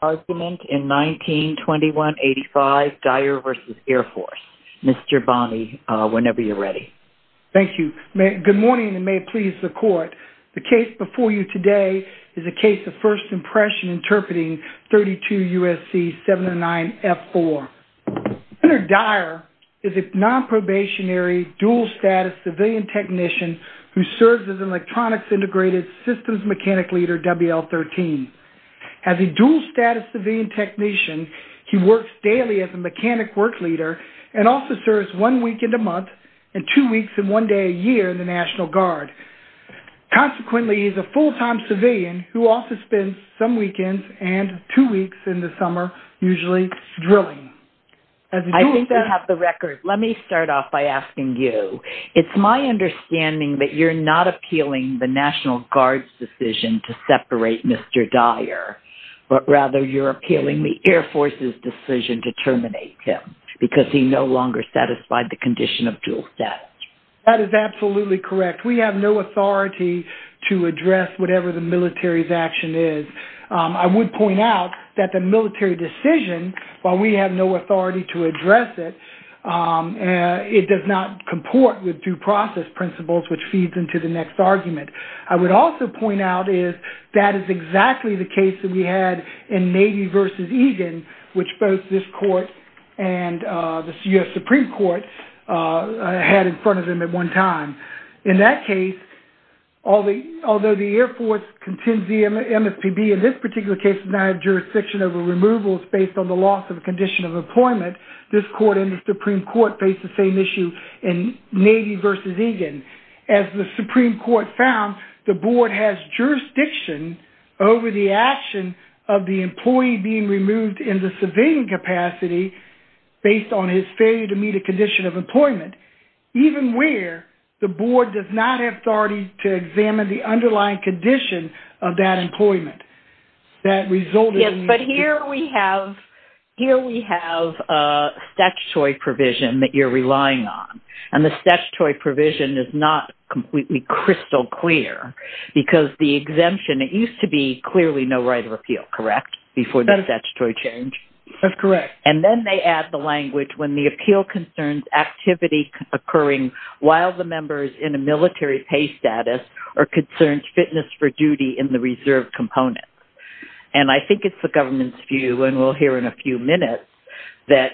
Argument in 1921-85, Dyer v. Air Force. Mr. Bonney, whenever you're ready. Thank you. Good morning, and may it please the court. The case before you today is a case of first impression interpreting 32 USC 709F4. Senator Dyer is a non-probationary, dual-status civilian technician who serves as an electronics-integrated systems mechanic leader, WL-13. As a dual-status civilian technician, he works daily as a mechanic work leader and also serves one weekend a month and two weeks and one day a year in the National Guard. Consequently, he's a full-time civilian who also spends some weekends and two weeks in the summer, usually drilling. I think I have the record. Let me start off by asking you. It's my understanding that you're not appealing the National Guard's decision to separate Mr. Dyer, but rather you're appealing the Air Force's decision to terminate him because he no longer satisfied the condition of dual status. That is absolutely correct. We have no authority to address whatever the military's action is. I would point out that the military decision, while we have no authority to address it, it does not comport with due process principles which feeds into the next argument. I would also point out is that is exactly the case that we had in Navy versus Egan, which both this court and the U.S. Supreme Court had in front of them at one time. In that case, although the Air Force contends the MSPB, in this particular case, denied jurisdiction over removals based on the loss of a condition of employment, this court and the Supreme Court faced the same issue in Navy versus Egan. As the Supreme Court found, the board has jurisdiction over the action of the employee being removed in the civilian capacity based on his failure to meet a condition of employment, even where the board does not have authority to examine the underlying condition of that employment. That resulted in- Yes, but here we have a statutory provision that you're relying on. And the statutory provision is not completely crystal clear because the exemption, it used to be clearly no right of appeal, correct, before the statutory change? That's correct. And then they add the language when the appeal concerns activity occurring while the member is in a military pay status or concerns fitness for duty in the reserve component. And I think it's the government's view, and we'll hear in a few minutes, that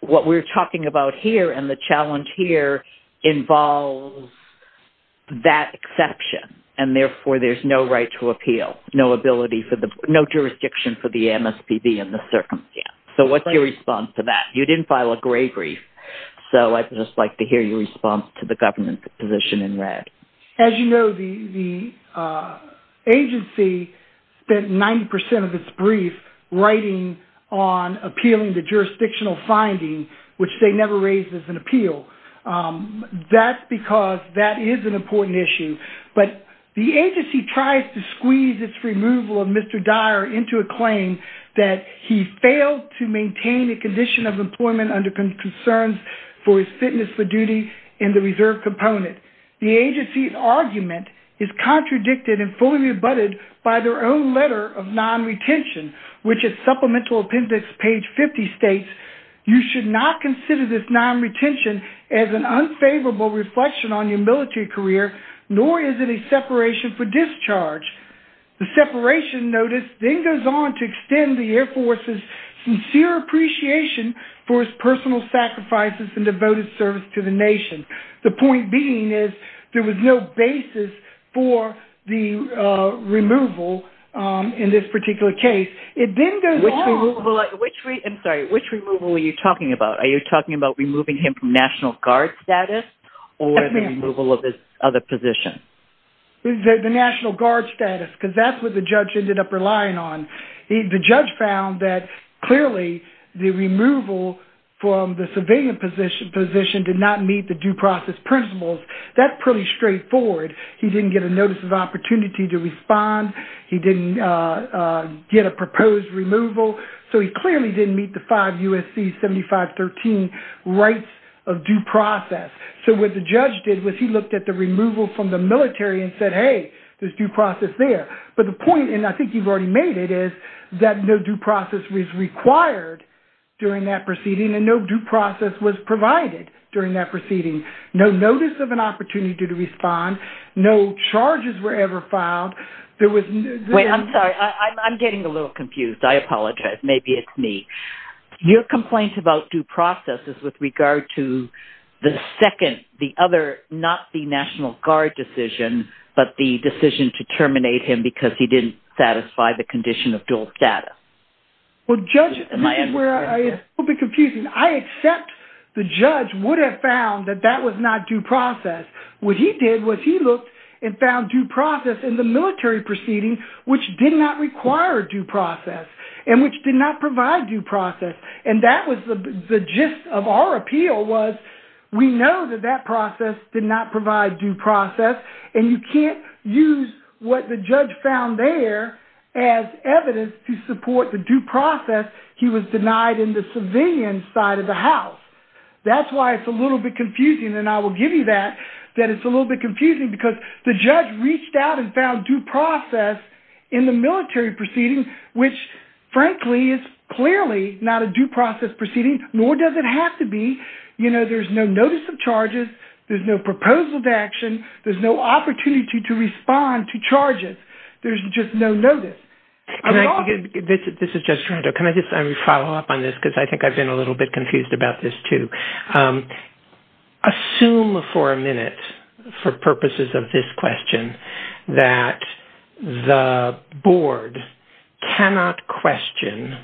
what we're talking about here and the challenge here involves that exception. And therefore, there's no right to appeal, no jurisdiction for the MSPB in this circumstance. So what's your response to that? You didn't file a gray brief. So I'd just like to hear your response to the government's position in red. As you know, the agency spent 90% of its brief writing on appealing the jurisdictional finding, which they never raised as an appeal. That's because that is an important issue. But the agency tries to squeeze its removal of Mr. Dyer into a claim that he failed to maintain a condition of employment under concerns for his fitness for duty in the reserve component. The agency's argument is contradicted and fully rebutted by their own letter of non-retention which is Supplemental Appendix page 50 states, you should not consider this non-retention as an unfavorable reflection on your military career, nor is it a separation for discharge. The separation notice then goes on to extend the Air Force's sincere appreciation for his personal sacrifices and devoted service to the nation. The point being is there was no basis for the removal in this particular case. It then goes on- Which removal, I'm sorry, which removal are you talking about? Are you talking about removing him from National Guard status? Or the removal of his other position? The National Guard status, because that's what the judge ended up relying on. The judge found that clearly the removal from the civilian position did not meet the due process principles. That's pretty straightforward. He didn't get a notice of opportunity to respond. He didn't get a proposed removal. So he clearly didn't meet the five USC 7513 rights of due process. So what the judge did was he looked at the removal from the military and said, hey, there's due process there. But the point, and I think you've already made it, is that no due process was required during that proceeding and no due process was provided during that proceeding. No notice of an opportunity to respond. No charges were ever filed. Wait, I'm sorry. I'm getting a little confused. I apologize. Maybe it's me. Your complaint about due process is with regard to the second, the other, not the National Guard decision, but the decision to terminate him because he didn't satisfy the condition of dual status. Well, judge, this is where it's a little bit confusing. I accept the judge would have found that that was not due process. What he did was he looked and found due process in the military proceeding, which did not require due process and which did not provide due process. And that was the gist of our appeal was we know that that process did not provide due process and you can't use what the judge found there as evidence to support the due process. He was denied in the civilian side of the house. That's why it's a little bit confusing. And I will give you that, that it's a little bit confusing because the judge reached out and found due process in the military proceeding, which frankly is clearly not a due process proceeding, nor does it have to be. You know, there's no notice of charges. There's no proposal to action. There's no opportunity to respond to charges. There's just no notice. Can I just follow up on this? Because I think I've been a little bit confused about this too. Assume for a minute for purposes of this question that the board cannot question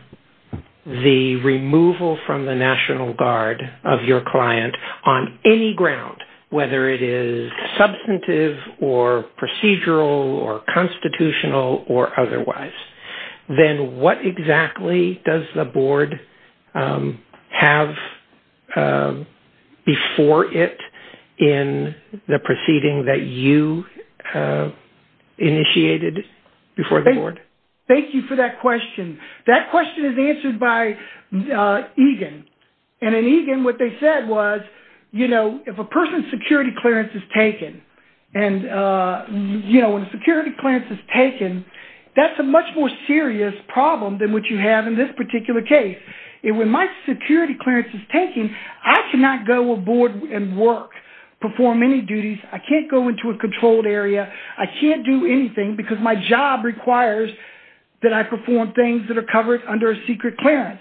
the removal from the National Guard of your client on any ground, whether it is substantive or procedural or constitutional or otherwise, then what exactly does the board have before it in the proceeding that you initiated before the board? Thank you for that question. That question is answered by Egan. And in Egan, what they said was, you know, if a person's security clearance is taken and you know, when the security clearance is taken, that's a much more serious problem than what you have in this particular case. And when my security clearance is taken, I cannot go aboard and work, perform any duties. I can't go into a controlled area. I can't do anything because my job requires that I perform things that are covered under a secret clearance.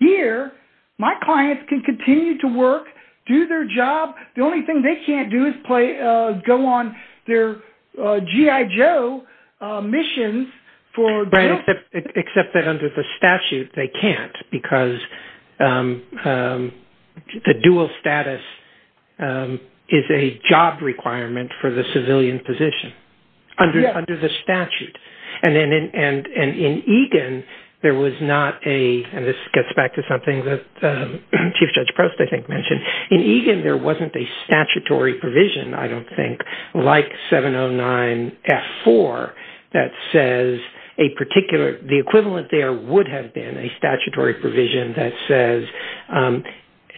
Here, my clients can continue to work, do their job. The only thing they can't do is play, go on their G.I. Joe missions for- Except that under the statute, they can't because the dual status is a job requirement for the civilian position under the statute. And then in Egan, there was not a, and this gets back to something that Chief Judge Prost I think mentioned. In Egan, there wasn't a statutory provision. I don't think like 709F4 that says a particular, the equivalent there would have been a statutory provision that says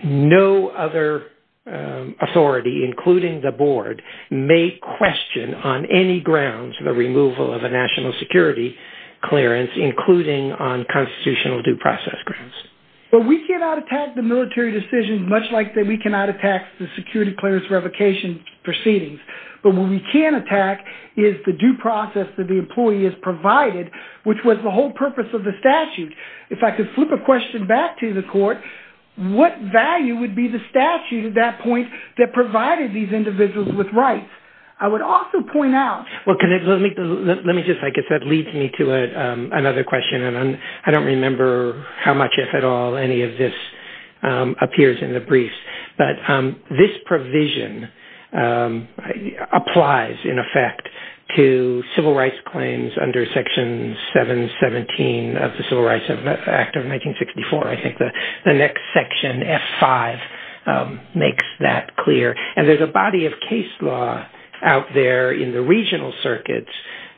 no other authority, including the board, may question on any grounds the removal of a national security clearance, including on constitutional due process grounds. But we cannot attack the military decisions much like that we cannot attack the security clearance revocation proceedings. But what we can attack is the due process that the employee is provided, which was the whole purpose of the statute. If I could flip a question back to the court, what value would be the statute at that point that provided these individuals with rights? I would also point out- Well, let me just, like I said, lead me to another question. And I don't remember how much, if at all, any of this appears in the briefs. But this provision applies, in effect, to civil rights claims under section 717 of the Civil Rights Act of 1964. I think the next section, F5, makes that clear. And there's a body of case law out there in the regional circuits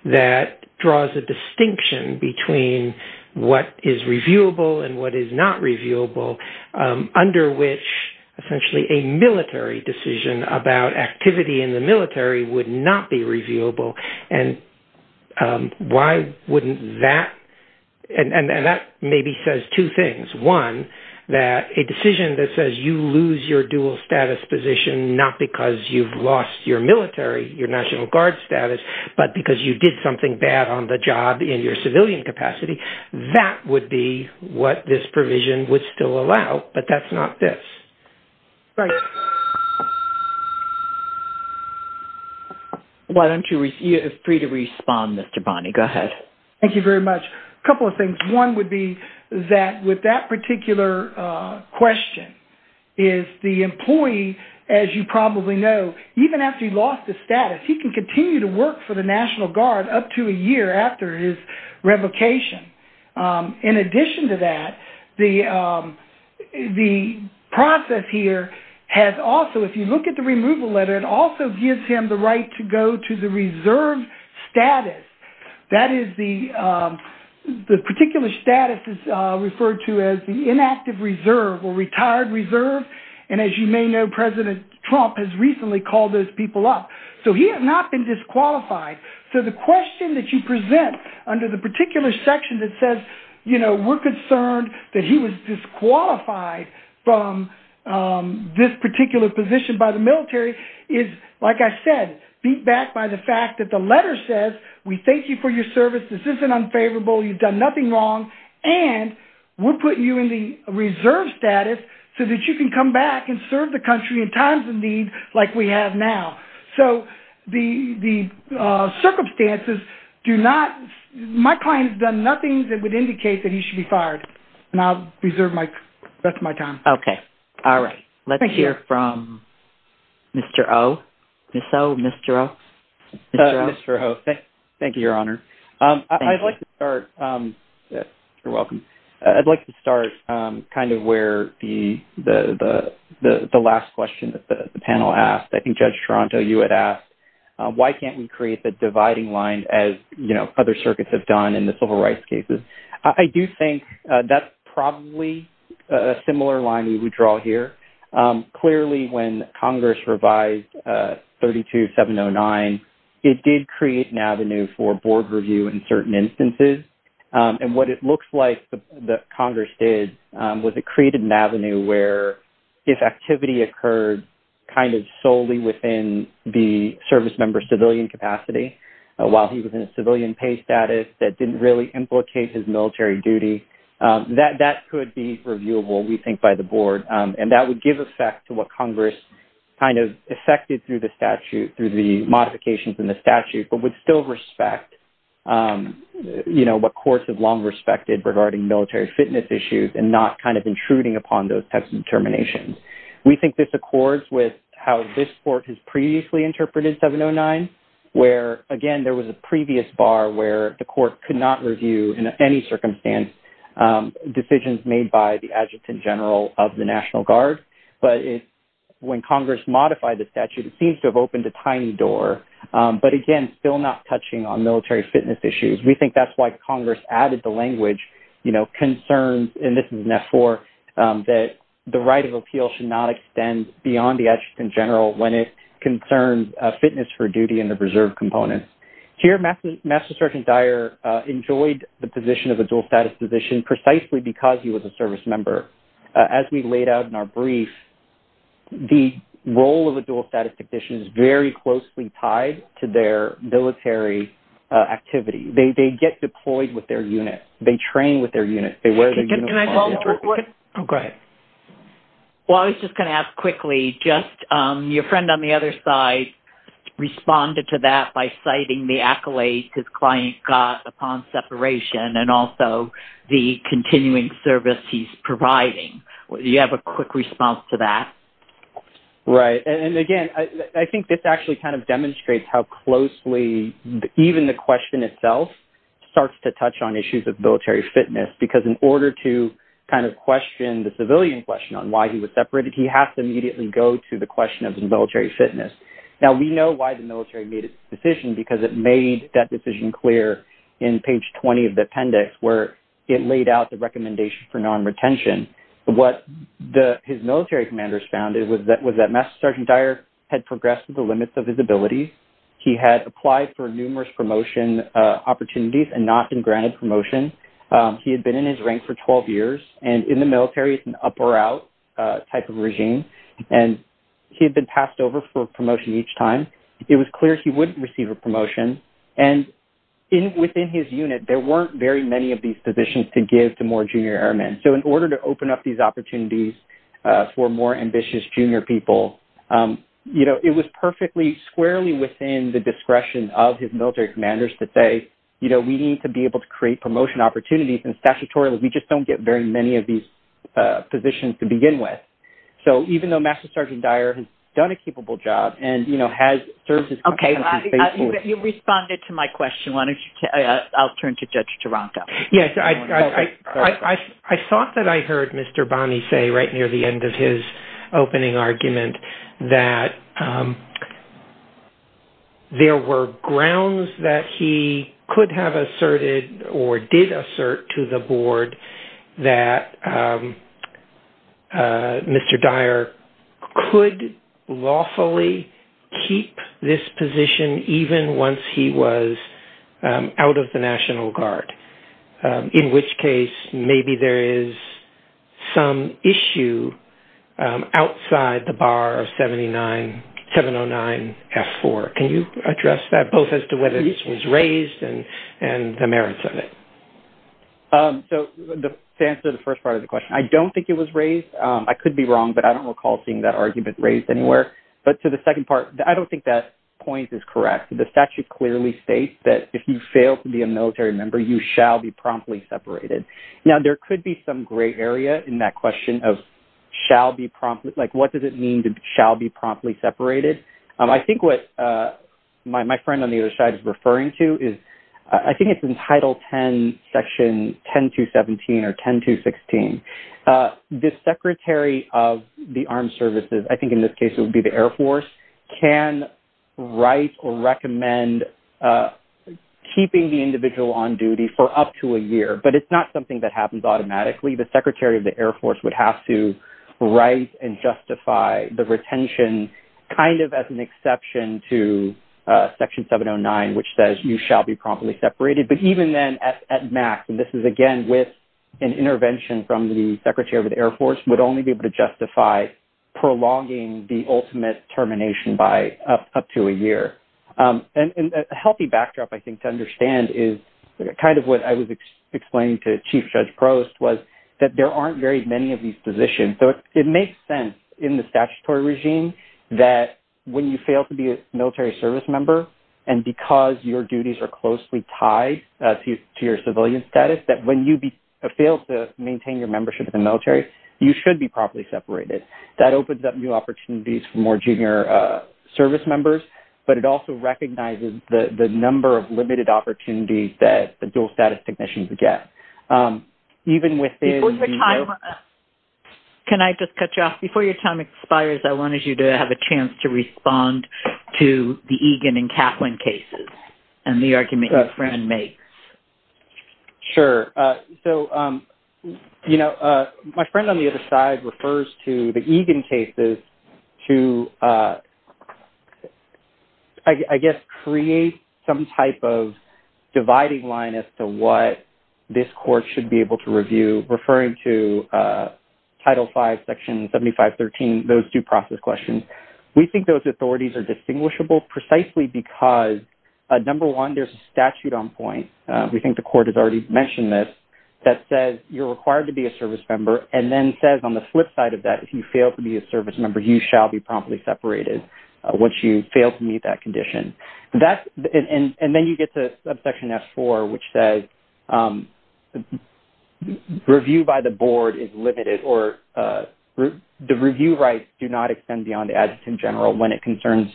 that draws a distinction between what is reviewable and what is not reviewable under which, essentially, a military decision about activity in the military would not be reviewable. And why wouldn't that? And that maybe says two things. One, that a decision that says you lose your dual status position, not because you've lost your military, your National Guard status, but because you did something bad on the job in your civilian capacity, that would be what this provision would still allow. But that's not this. Right. Why don't you, you're free to respond, Mr. Bonney. Go ahead. Thank you very much. A couple of things. One would be that with that particular question, is the employee, as you probably know, even after he lost his status, he can continue to work for the National Guard up to a year after his revocation. In addition to that, the process here has also, if you look at the removal letter, it also gives him the right to go to the reserve status. That is the, the particular status is referred to as the inactive reserve or retired reserve. And as you may know, President Trump has recently called those people up. So he has not been disqualified. So the question that you present under the particular section that says, we're concerned that he was disqualified from this particular position by the military is, like I said, beat back by the fact that the letter says, we thank you for your service. This isn't unfavorable. You've done nothing wrong. And we're putting you in the reserve status so that you can come back and serve the country in times of need like we have now. So the circumstances do not, my client has done nothing that would indicate that he should be fired. And I'll reserve my, that's my time. Okay, all right. Let's hear from Mr. O. Ms. O, Mr. O. Mr. O, thank you, your honor. I'd like to start, you're welcome. I'd like to start kind of where the last question that the panel asked. I think Judge Toronto, you had asked, why can't we create the dividing line as other circuits have done in the civil rights cases? I do think that's probably a similar line we would draw here. Clearly when Congress revised 32709, it did create an avenue for board review in certain instances. And what it looks like the Congress did was it created an avenue where if activity occurred kind of solely within the service member civilian capacity while he was in a civilian pay status that didn't really implicate his military duty, that could be reviewable, we think by the board. And that would give effect to what Congress kind of effected through the statute, through the modifications in the statute, but would still respect, you know, what courts have long respected regarding military fitness issues and not kind of intruding upon those types of determinations. We think this accords with how this court has previously interpreted 709, where again, there was a previous bar where the court could not review in any circumstance decisions made by the Adjutant General of the National Guard but when Congress modified the statute, it seems to have opened a tiny door, but again, still not touching on military fitness issues. We think that's why Congress added the language, you know, concerns, and this is an F4, that the right of appeal should not extend beyond the Adjutant General when it concerns fitness for duty in the reserve components. Here, Master Sergeant Dyer enjoyed the position of a dual status physician precisely because he was a service member. As we laid out in our brief, the role of a dual status technician is very closely tied to their military activity. They get deployed with their units. They train with their units. They wear their uniform. Oh, go ahead. Well, I was just going to ask quickly, just your friend on the other side responded to that by citing the accolades his client got upon separation and also the continuing service he's providing. Do you have a quick response to that? Right, and again, I think this actually kind of demonstrates how closely, even the question itself starts to touch on issues of military fitness because in order to kind of question the civilian question on why he was separated, he has to immediately go to the question of the military fitness. Now, we know why the military made this decision because it made that decision clear in page 20 of the appendix where it laid out the recommendation for non-retention. What his military commanders found was that Master Sergeant Dyer had progressed to the limits of his abilities. He had applied for numerous promotion opportunities and not been granted promotion. He had been in his rank for 12 years and in the military, it's an up or out type of regime. And he had been passed over for promotion each time. It was clear he wouldn't receive a promotion. And within his unit, there weren't very many of these positions to give to more junior airmen. So in order to open up these opportunities for more ambitious junior people, it was perfectly squarely within the discretion of his military commanders to say, we need to be able to create promotion opportunities and statutorily, we just don't get very many of these positions to begin with. So even though Master Sergeant Dyer has done a capable job and has served his country faithfully. You responded to my question. Why don't you, I'll turn to Judge Taranto. Yes, I thought that I heard Mr. Bonney say right near the end of his opening argument that there were grounds that he could have asserted or did assert to the board that Mr. Dyer could lawfully keep this position even once he was out of the National Guard. In which case, maybe there is some issue outside the bar of 709F4. Can you address that both as to whether this was raised and the merits of it? So to answer the first part of the question, I don't think it was raised. I could be wrong, but I don't recall seeing that argument raised anywhere. But to the second part, I don't think that point is correct. The statute clearly states that if you fail to be a military member, you shall be promptly separated. Now there could be some gray area in that question of shall be promptly, like what does it mean to shall be promptly separated? I think what my friend on the other side is referring to is I think it's in Title 10, Section 10217 or 10216. The Secretary of the Armed Services, I think in this case it would be the Air Force, can write or recommend keeping the individual on duty for up to a year, but it's not something that happens automatically. The Secretary of the Air Force would have to write and justify the retention kind of as an exception to Section 709, which says you shall be promptly separated. But even then at max, and this is again with an intervention from the Secretary of the Air Force, would only be able to justify prolonging the ultimate termination by up to a year. And a healthy backdrop I think to understand is kind of what I was explaining to Chief Judge Prost was that there aren't very many of these positions. So it makes sense in the statutory regime that when you fail to be a military service member and because your duties are closely tied to your civilian status, that when you fail to maintain your membership in the military, you should be promptly separated. That opens up new opportunities for more junior service members, but it also recognizes the number of limited opportunities that the dual status technicians would get. Even with the- Can I just cut you off? Before your time expires, I wanted you to have a chance to respond to the Egan and Kaplan cases and the argument your friend makes. Sure. So, you know, my friend on the other side refers to the Egan cases to, I guess, create some type of dividing line as to what this court should be able to review, referring to Title V, Section 7513, those due process questions. We think those authorities are distinguishable precisely because, number one, there's a statute on point, we think the court has already mentioned this, that says you're required to be a service member and then says on the flip side of that, if you fail to be a service member, you shall be promptly separated once you fail to meet that condition. And then you get to Subsection S4, which says review by the board is limited or the review rights do not extend beyond the adjutant general when it concerns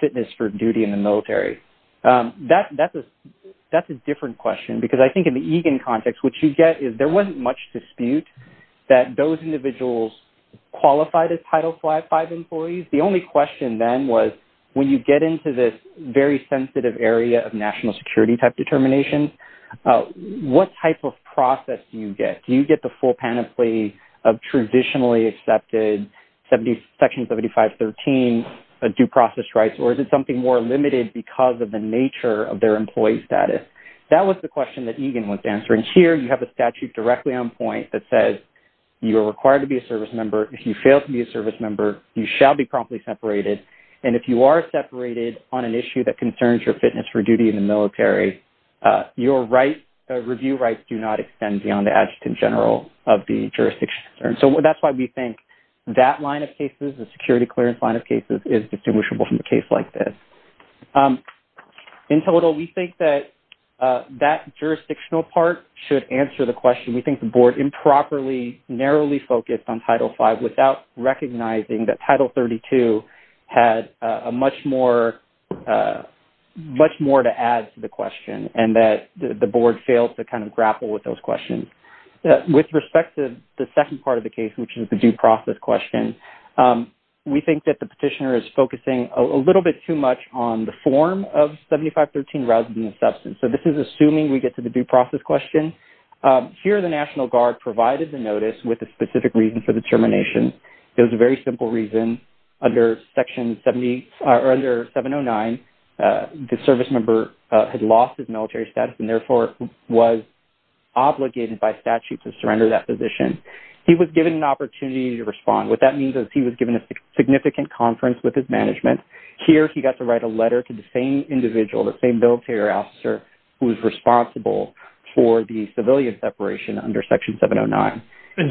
fitness for duty in the military. That's a different question because I think in the Egan context, what you get is there wasn't much dispute that those individuals qualified as Title V employees. The only question then was when you get into this very sensitive area of national security type determinations, what type of process do you get? Do you get the full panoply of traditionally accepted Section 7513 due process rights or is it something more limited because of the nature of their employee status? That was the question that Egan was answering. Here, you have a statute directly on point that says you are required to be a service member. If you fail to be a service member, you shall be promptly separated. And if you are separated on an issue that concerns your fitness for duty in the military, your review rights do not extend beyond the adjutant general of the jurisdiction. So that's why we think that line of cases, the security clearance line of cases is distinguishable from a case like this. In total, we think that that jurisdictional part should answer the question. We think the board improperly, narrowly focused on Title V without recognizing that Title 32 had much more to add to the question and that the board failed to kind of grapple with those questions. With respect to the second part of the case, which is the due process question, we think that the petitioner is focusing a little bit too much on the form of 7513 rather than the substance. So this is assuming we get to the due process question. Here, the National Guard provided the notice with a specific reason for the termination. It was a very simple reason. Under Section 70, or under 709, the service member had lost his military status and therefore was obligated by statute to surrender that position. He was given an opportunity to respond. What that means is he was given a significant conference with his management. Here, he got to write a letter to the same individual, the same military officer who was responsible for the civilian separation under Section 709. And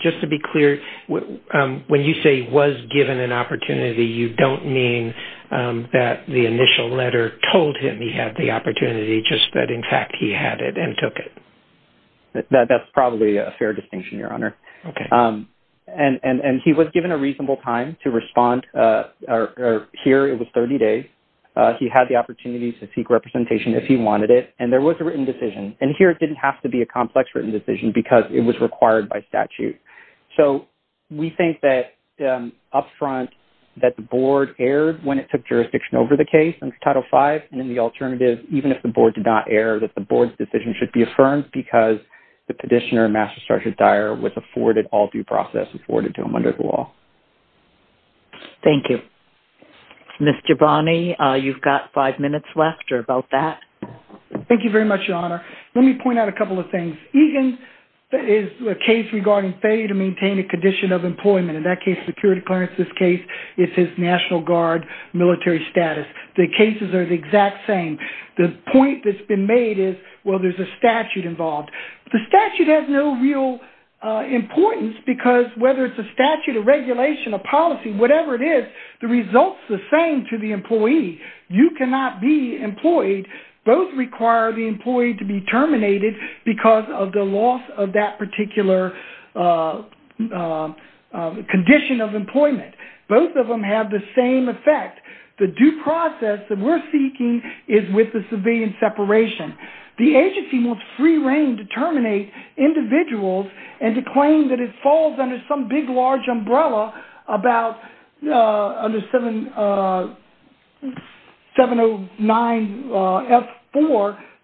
just to be clear, when you say was given an opportunity, you don't mean that the initial letter told him he had the opportunity, just that in fact he had it and took it. That's probably a fair distinction, Your Honor. Okay. And he was given a reasonable time to respond. Here, it was 30 days. He had the opportunity to seek representation if he wanted it, and there was a written decision. And here, it didn't have to be a complex written decision because it was required by statute. So we think that upfront that the board erred when it took jurisdiction over the case under Title V, and then the alternative, even if the board did not err, that the board's decision should be affirmed because the petitioner, Master Sergeant Dyer, was afforded all due process, afforded to him under the law. Thank you. Mr. Bonney, you've got five minutes left or about that. Thank you very much, Your Honor. Let me point out a couple of things. Egan's case regarding failure to maintain a condition of employment, in that case, security clearance, this case, it's his National Guard military status. The cases are the exact same. The point that's been made is, well, there's a statute involved. The statute has no real importance because whether it's a statute, a regulation, a policy, whatever it is, the result's the same to the employee. You cannot be employed. Those require the employee to be terminated because of the loss of that particular condition of employment. Both of them have the same effect. The due process that we're seeking is with the civilian separation. The agency wants free reign to terminate individuals and to claim that it falls under some big, large umbrella about, under 709F4,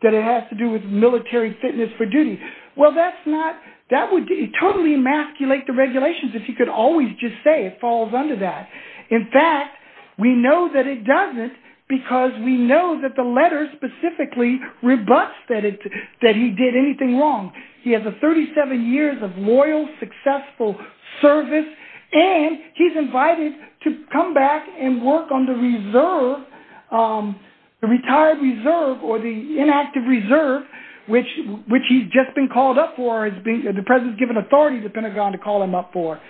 that it has to do with military fitness for duty. Well, that's not, that would totally emasculate the regulations if you could always just say it falls under that. In fact, we know that it doesn't because we know that the letter specifically rebuts that he did anything wrong. He has a 37 years of loyal, successful service, and he's invited to come back and work on the reserve, the retired reserve or the inactive reserve, which he's just been called up for, the president's given authority to the Pentagon to call him up for.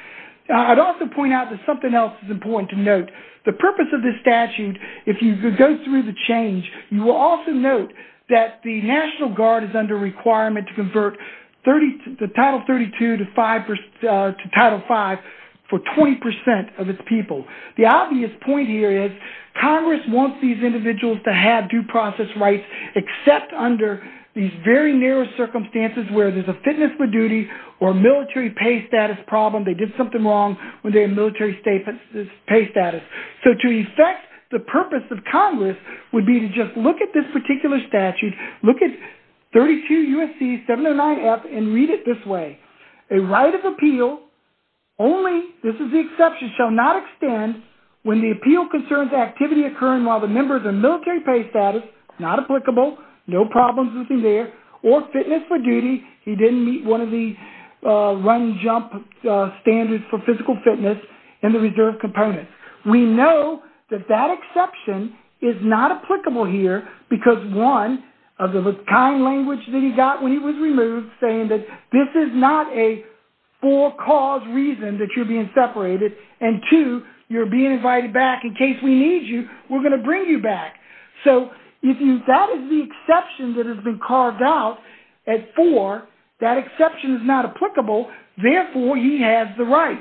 I'd also point out that something else is important to note. The purpose of this statute, if you could go through the change, you will also note that the National Guard is under requirement to convert the Title 32 to Title 5 for 20% of its people. The obvious point here is Congress wants these individuals to have due process rights, except under these very narrow circumstances where there's a fitness for duty or military pay status problem. They did something wrong when they had military pay status. So to effect the purpose of Congress would be to just look at this particular statute, look at 32 U.S.C. 709F and read it this way. A right of appeal only, this is the exception, shall not extend when the appeal concerns activity occurring while the members are military pay status, not applicable, no problems with him there, or fitness for duty. He didn't meet one of the run jump standards for physical fitness in the reserve components. We know that that exception is not applicable here because one of the kind language that he got when he was removed saying that this is not a for cause reason that you're being separated and two, you're being invited back in case we need you, we're gonna bring you back. So if that is the exception that has been carved out at four, that exception is not applicable, therefore he has the right.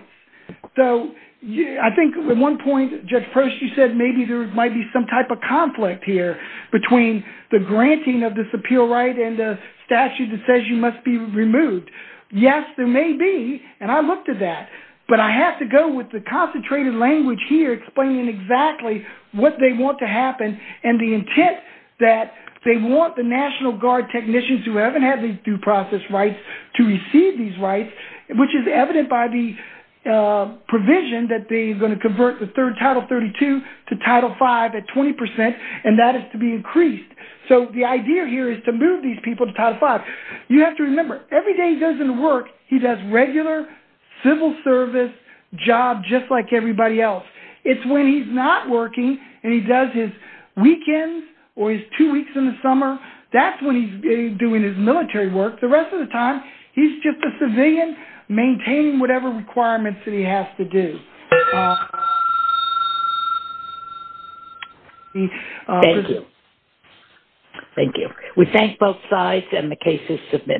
So I think at one point, Judge Prost, you said maybe there might be some type of conflict here between the granting of this appeal right and the statute that says you must be removed. Yes, there may be, and I looked at that, but I have to go with the concentrated language here explaining exactly what they want to happen and the intent that they want the National Guard technicians who haven't had these due process rights to receive these rights, which is evident by the provision that they're gonna convert the third Title 32 to Title V at 20% and that is to be increased. So the idea here is to move these people to Title V. You have to remember, every day he goes into work, he does regular civil service job just like everybody else. It's when he's not working and he does his weekends or his two weeks in the summer, that's when he's doing his military work. The rest of the time, he's just a civilian maintaining whatever requirements that he has to do. Thank you, thank you. We thank both sides and the case is submitted. Thank you.